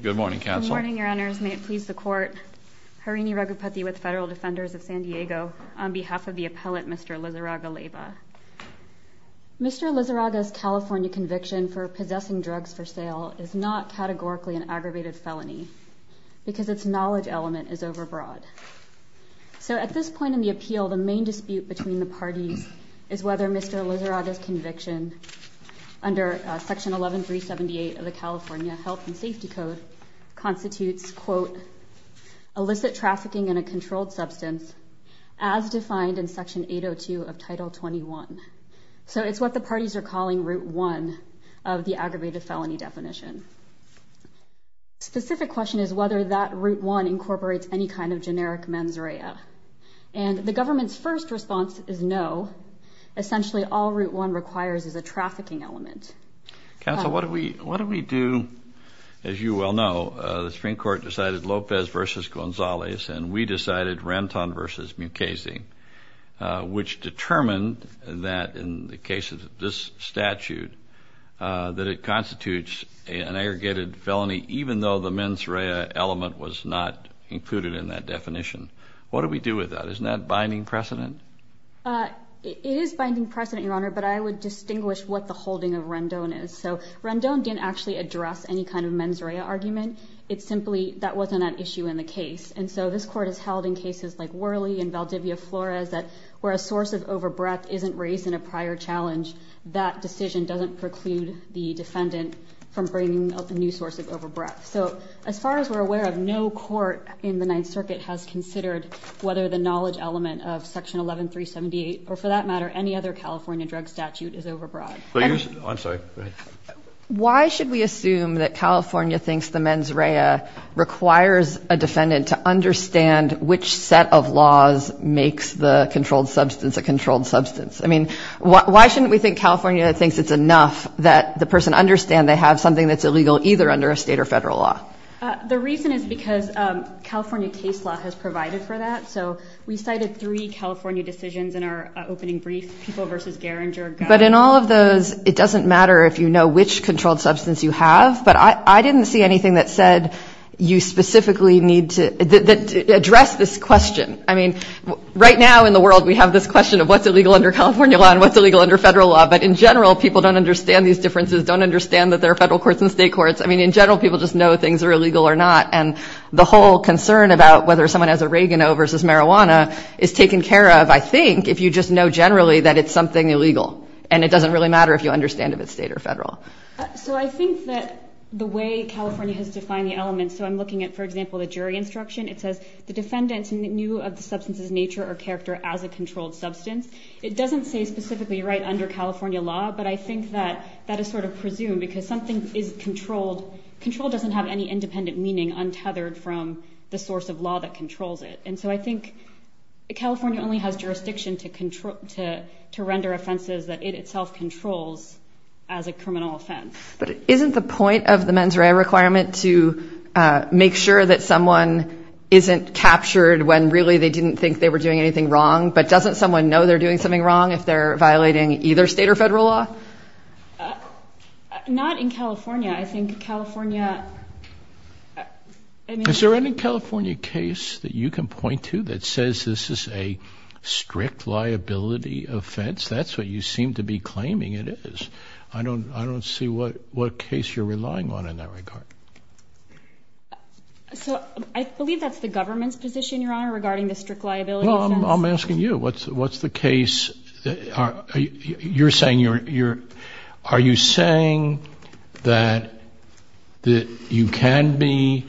Good morning, Your Honors. May it please the Court, Harini Raghupathy with Federal Defenders of San Diego, on behalf of the appellate, Mr. Lizarraga-Leyva. Mr. Lizarraga's California conviction for possessing drugs for sale is not categorically an aggravated felony because its knowledge element is overbroad. So at this point in the appeal, the main dispute between the parties is whether Mr. Lizarraga's conviction under Section 11378 of the California Health and Safety Code constitutes, quote, illicit trafficking in a controlled substance as defined in Section 802 of Title 21. So it's what the parties are calling Route 1 of the aggravated felony definition. The specific question is whether that Route 1 incorporates any kind of generic mens rea. And the government's first response is no. Essentially, all Route 1 requires is a trafficking element. Counsel, what do we do? As you well know, the Supreme Court decided Lopez v. Gonzalez, and we decided Ranton v. Mukasey, which determined that in the case of this statute, that it constitutes an aggregated felony even though the mens rea element was not included in that definition. What do we do with that? Isn't that binding precedent? It is binding precedent, Your Honor, but I would distinguish what the holding of Ranton is. So Ranton didn't actually address any kind of mens rea argument. It simply, that wasn't an issue in the case. And so this Court has held in cases like Worley and Valdivia Flores that where a source of overbreath isn't raised in a prior challenge, that decision doesn't preclude the defendant from bringing up a new source of overbreath. So as far as we're aware of, no court in the Ninth Circuit has considered whether the knowledge element of Section 11378, or for that matter, any other California drug statute, is overbroad. I'm sorry. Go ahead. Why should we assume that California thinks the mens rea requires a defendant to understand which set of laws makes the controlled substance a controlled substance? I mean, why shouldn't we think California thinks it's enough that the person understand they have something that's illegal either under a state or federal law? The reason is because California case law has provided for that. So we cited three California decisions in our opening brief, People v. Garinger. But in all of those, it doesn't matter if you know which controlled substance you have. But I didn't see anything that said you specifically need to address this question. I mean, right now in the world, we have this question of what's illegal under California law and what's illegal under federal law. But in general, people don't understand these differences, don't understand that there are federal courts and state courts. I mean, in general, people just know things are illegal or not. And the whole concern about whether someone has oregano versus marijuana is taken care of, I think, if you just know generally that it's something illegal. And it doesn't really matter if you understand if it's state or federal. So I think that the way California has defined the elements, so I'm looking at, for example, the jury instruction. It says the defendant knew of the substance's nature or character as a controlled substance. It doesn't say specifically right under California law, but I think that that is sort of presumed because something is controlled. Control doesn't have any independent meaning untethered from the source of law that controls it. And so I think California only has jurisdiction to render offenses that it itself controls as a criminal offense. But isn't the point of the mens rea requirement to make sure that someone isn't captured when really they didn't think they were doing anything wrong? But doesn't someone know they're doing something wrong if they're violating either state or federal law? Not in California. I think California. Is there any California case that you can point to that says this is a strict liability offense? That's what you seem to be claiming it is. I don't see what case you're relying on in that regard. So I believe that's the government's position, Your Honor, regarding the strict liability. Well, I'm asking you, what's the case? You're saying that you can be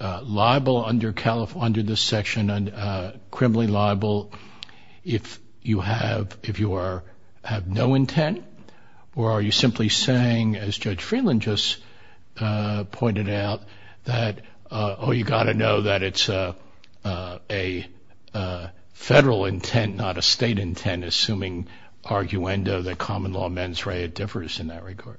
liable under this section, criminally liable, if you have no intent? Or are you simply saying, as Judge Freeland just pointed out, that, oh, you've got to know that it's a federal intent, not a state intent, assuming arguendo that common law mens rea differs in that regard?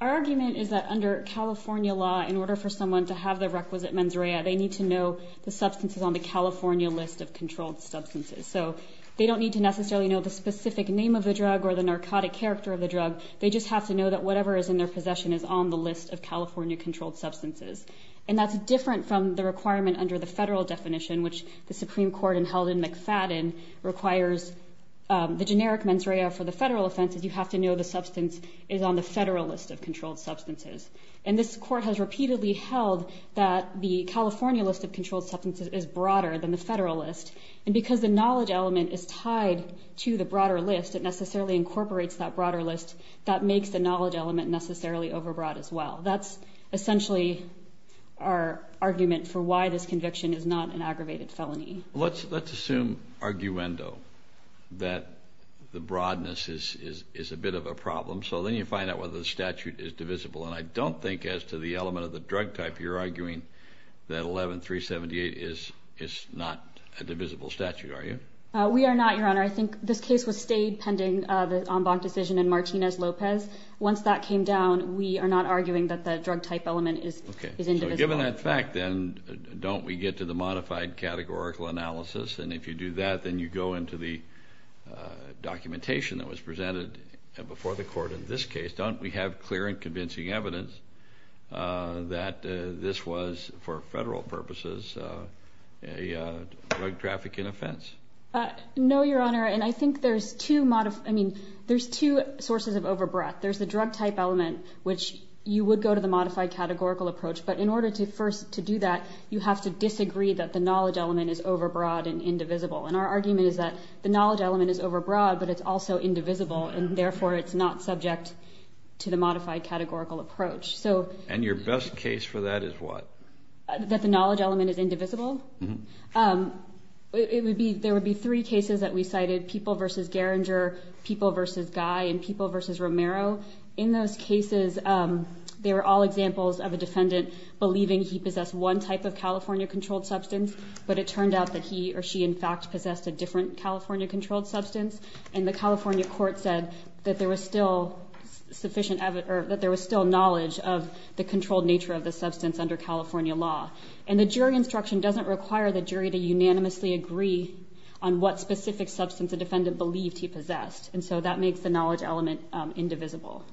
Our argument is that under California law, in order for someone to have the requisite mens rea, they need to know the substances on the California list of controlled substances. So they don't need to necessarily know the specific name of the drug or the narcotic character of the drug. They just have to know that whatever is in their possession is on the list of California controlled substances. And that's different from the requirement under the federal definition, which the Supreme Court, and held in McFadden, requires the generic mens rea for the federal offenses. You have to know the substance is on the federal list of controlled substances. And this court has repeatedly held that the California list of controlled substances is broader than the federal list. And because the knowledge element is tied to the broader list, it necessarily incorporates that broader list. That makes the knowledge element necessarily overbroad as well. That's essentially our argument for why this conviction is not an aggravated felony. Let's assume arguendo, that the broadness is a bit of a problem. So then you find out whether the statute is divisible. And I don't think as to the element of the drug type, you're arguing that 11-378 is not a divisible statute, are you? We are not, Your Honor. I think this case was stayed pending the Ombach decision in Martinez-Lopez. Once that came down, we are not arguing that the drug type element is indivisible. Okay. So given that fact, then don't we get to the modified categorical analysis? And if you do that, then you go into the documentation that was presented before the court in this case. Don't we have clear and convincing evidence that this was, for federal purposes, a drug trafficking offense? No, Your Honor. And I think there's two sources of overbreadth. There's the drug type element, which you would go to the modified categorical approach. But in order to first do that, you have to disagree that the knowledge element is overbroad and indivisible. And our argument is that the knowledge element is overbroad, but it's also indivisible. And therefore, it's not subject to the modified categorical approach. And your best case for that is what? That the knowledge element is indivisible? Mm-hmm. There would be three cases that we cited, People v. Geringer, People v. Guy, and People v. Romero. In those cases, they were all examples of a defendant believing he possessed one type of California-controlled substance. But it turned out that he or she, in fact, possessed a different California-controlled substance. And the California court said that there was still knowledge of the controlled nature of the substance under California law. And the jury instruction doesn't require the jury to unanimously agree on what specific substance the defendant believed he possessed. And so that makes the knowledge element indivisible.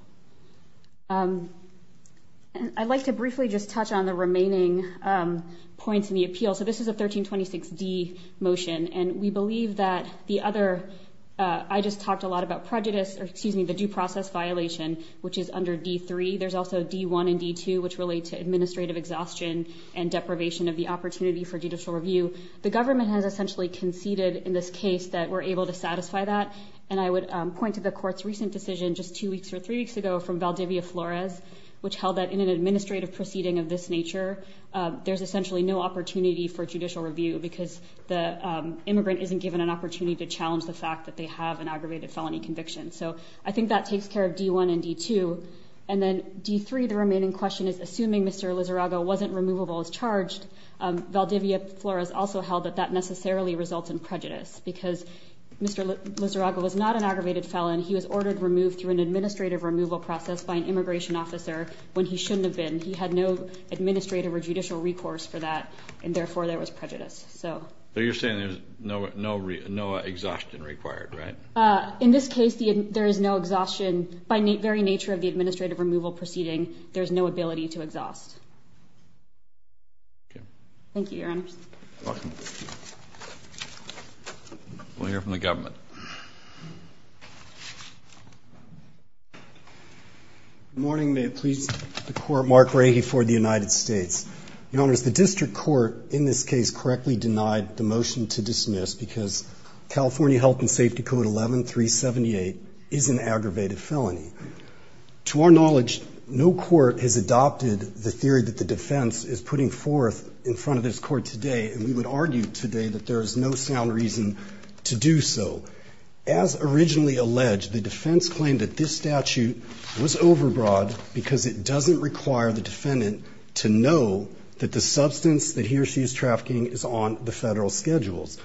I'd like to briefly just touch on the remaining points in the appeal. So this is a 1326D motion. And we believe that the other ‑‑ I just talked a lot about prejudice, or excuse me, the due process violation, which is under D.3. There's also D.1 and D.2, which relate to administrative exhaustion and deprivation of the opportunity for judicial review. The government has essentially conceded in this case that we're able to satisfy that. And I would point to the court's recent decision just two weeks or three weeks ago from Valdivia Flores, which held that in an administrative proceeding of this nature, there's essentially no opportunity for judicial review because the immigrant isn't given an opportunity to challenge the fact that they have an aggravated felony conviction. So I think that takes care of D.1 and D.2. And then D.3, the remaining question is, assuming Mr. Lizarraga wasn't removable as charged, Valdivia Flores also held that that necessarily results in prejudice because Mr. Lizarraga was not an aggravated felon. He was ordered removed through an administrative removal process by an immigration officer when he shouldn't have been. He had no administrative or judicial recourse for that, and therefore there was prejudice. So you're saying there's no exhaustion required, right? In this case, there is no exhaustion. By the very nature of the administrative removal proceeding, there's no ability to exhaust. Thank you, Your Honors. You're welcome. We'll hear from the government. Good morning. May it please the Court. Mark Rahe for the United States. Your Honors, the district court in this case correctly denied the motion to dismiss because California Health and Safety Code 11378 is an aggravated felony. To our knowledge, no court has adopted the theory that the defense is putting forth in front of this court today, and we would argue today that there is no sound reason to do so. As originally alleged, the defense claimed that this statute was overbroad because it doesn't require the defendant to know that the substance that he or she is trafficking is on the federal schedules.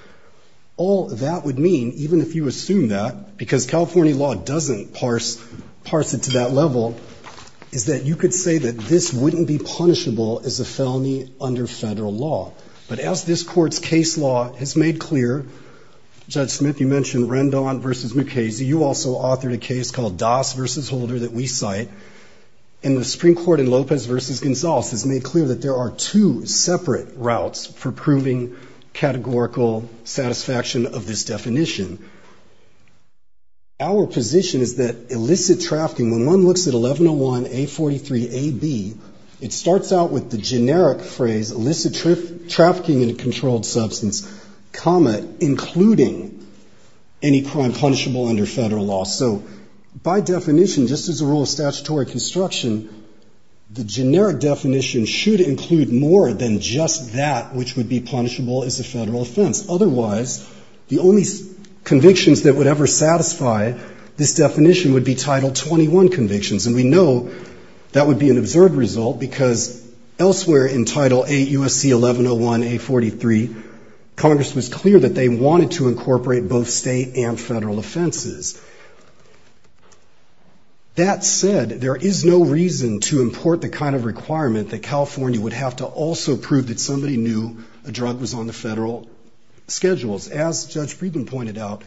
All that would mean, even if you assume that, because California law doesn't parse it to that level, is that you could say that this wouldn't be punishable as a felony under federal law. But as this court's case law has made clear, Judge Smith, you mentioned Rendon v. McKay. You also authored a case called Das v. Holder that we cite. And the Supreme Court in Lopez v. Gonzales has made clear that there are two separate routes for proving categorical satisfaction of this definition. Our position is that illicit trafficking, when one looks at 1101A43AB, it starts out with the generic phrase, illicit trafficking in a controlled substance, comma, including any crime punishable under federal law. So by definition, just as a rule of statutory construction, the generic definition should include more than just that, which would be punishable as a federal offense. Otherwise, the only convictions that would ever satisfy this definition would be Title 21 convictions. And we know that would be an absurd result, because elsewhere in Title 8 U.S.C. 1101A43, Congress was clear that they wanted to incorporate both state and federal offenses. That said, there is no reason to import the kind of requirement that California would have to also prove that somebody knew a drug was on the federal schedules. As Judge Friedman pointed out,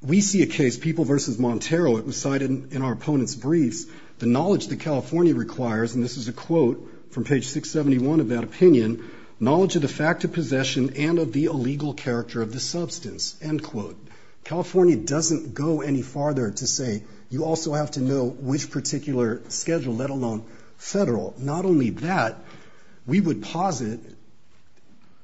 we see a case, People v. Montero, it was cited in our opponent's briefs, the knowledge that California requires, and this is a quote from page 671 of that opinion, knowledge of the fact of possession and of the illegal character of the substance, end quote. California doesn't go any farther to say you also have to know which particular schedule, let alone federal. Not only that, we would posit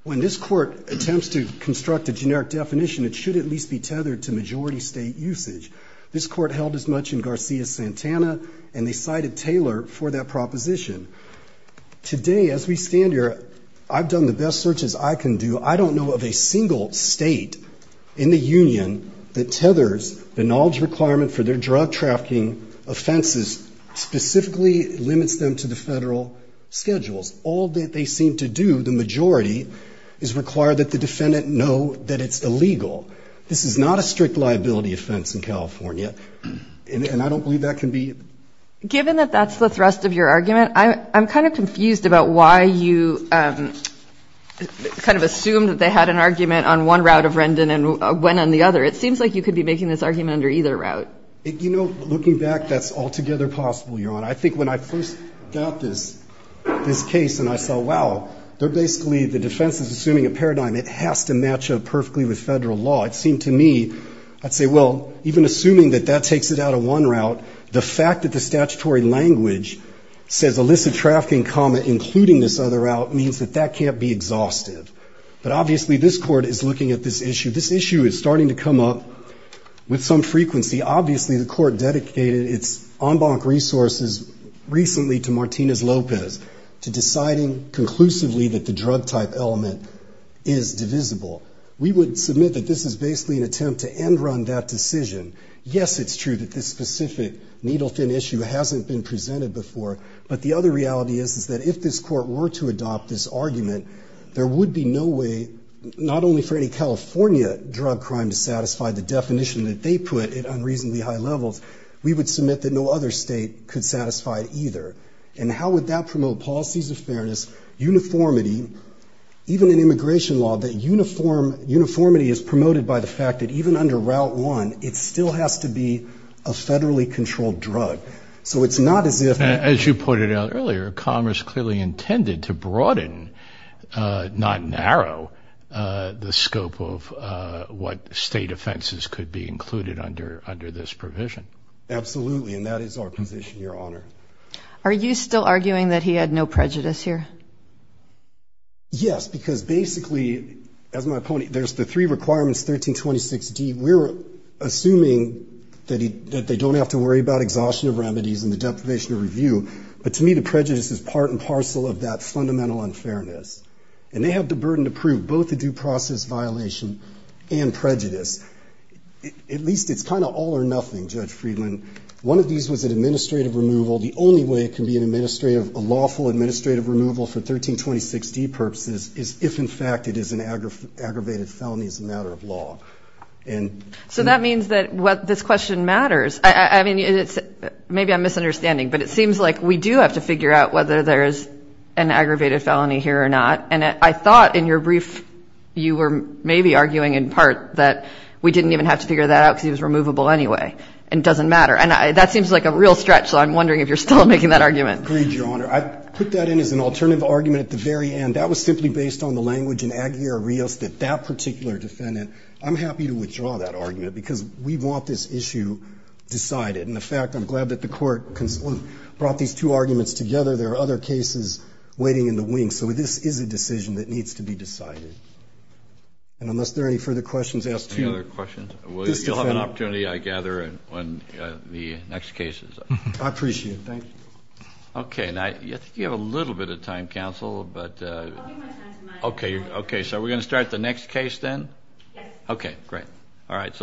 when this court attempts to construct a generic definition, it should at least be tethered to majority state usage. This court held as much in Garcia-Santana, and they cited Taylor for that proposition. Today, as we stand here, I've done the best searches I can do. I don't know of a single state in the union that tethers the knowledge requirement for their drug trafficking offenses, specifically limits them to the federal schedules. All that they seem to do, the majority, is require that the defendant know that it's illegal. This is not a strict liability offense in California, and I don't believe that can be. Given that that's the thrust of your argument, I'm kind of confused about why you kind of assumed that they had an argument on one route of Rendon and went on the other. It seems like you could be making this argument under either route. You know, looking back, that's altogether possible, Your Honor. I think when I first got this case and I saw, wow, they're basically, the defense is assuming a paradigm. It has to match up perfectly with federal law. It seemed to me, I'd say, well, even assuming that that takes it out of one route, the fact that the statutory language says with some frequency, obviously the court dedicated its en banc resources recently to Martinez-Lopez, to deciding conclusively that the drug-type element is divisible. We would submit that this is basically an attempt to end-run that decision. Yes, it's true that this specific needle-thin issue hasn't been presented before, but the other reality is that if this court were to adopt this argument, there would be no way, not only for any California drug crime to satisfy the definition that they put at unreasonably high levels, we would submit that no other state could satisfy it either. And how would that promote policies of fairness, uniformity, even in immigration law, that uniformity is promoted by the fact that even under Route 1, it still has to be a federally controlled drug. So it's not as if... As you pointed out earlier, Commerce clearly intended to broaden, not narrow, the scope of what state offenses could be included under this provision. Absolutely, and that is our position, Your Honor. Are you still arguing that he had no prejudice here? Yes, because basically, as my point, there's the three requirements, 1326D. We're assuming that they don't have to worry about exhaustion of remedies and the deprivation of review. But to me, the prejudice is part and parcel of that fundamental unfairness. And they have the burden to prove both the due process violation and prejudice. At least it's kind of all or nothing, Judge Friedland. One of these was an administrative removal. The only way it can be a lawful administrative removal for 1326D purposes is if, in fact, it is an aggravated felony as a matter of law. So that means that this question matters. Maybe I'm misunderstanding, but it seems like we do have to figure out whether there is an aggravated felony here or not. And I thought in your brief you were maybe arguing in part that we didn't even have to figure that out because he was removable anyway. And it doesn't matter. And that seems like a real stretch, so I'm wondering if you're still making that argument. Agreed, Your Honor. I put that in as an alternative argument at the very end. That was simply based on the language in Aguirre-Rios that that particular defendant – I'm happy to withdraw that argument because we want this issue decided. And, in fact, I'm glad that the Court brought these two arguments together. There are other cases waiting in the wings. So this is a decision that needs to be decided. And unless there are any further questions, I ask two. Any other questions? You'll have an opportunity, I gather, on the next cases. I appreciate it. Thank you. Okay. I think you have a little bit of time, counsel. I'll give my time to Mike. Okay. So are we going to start the next case then? Yes. Okay. Great. All right.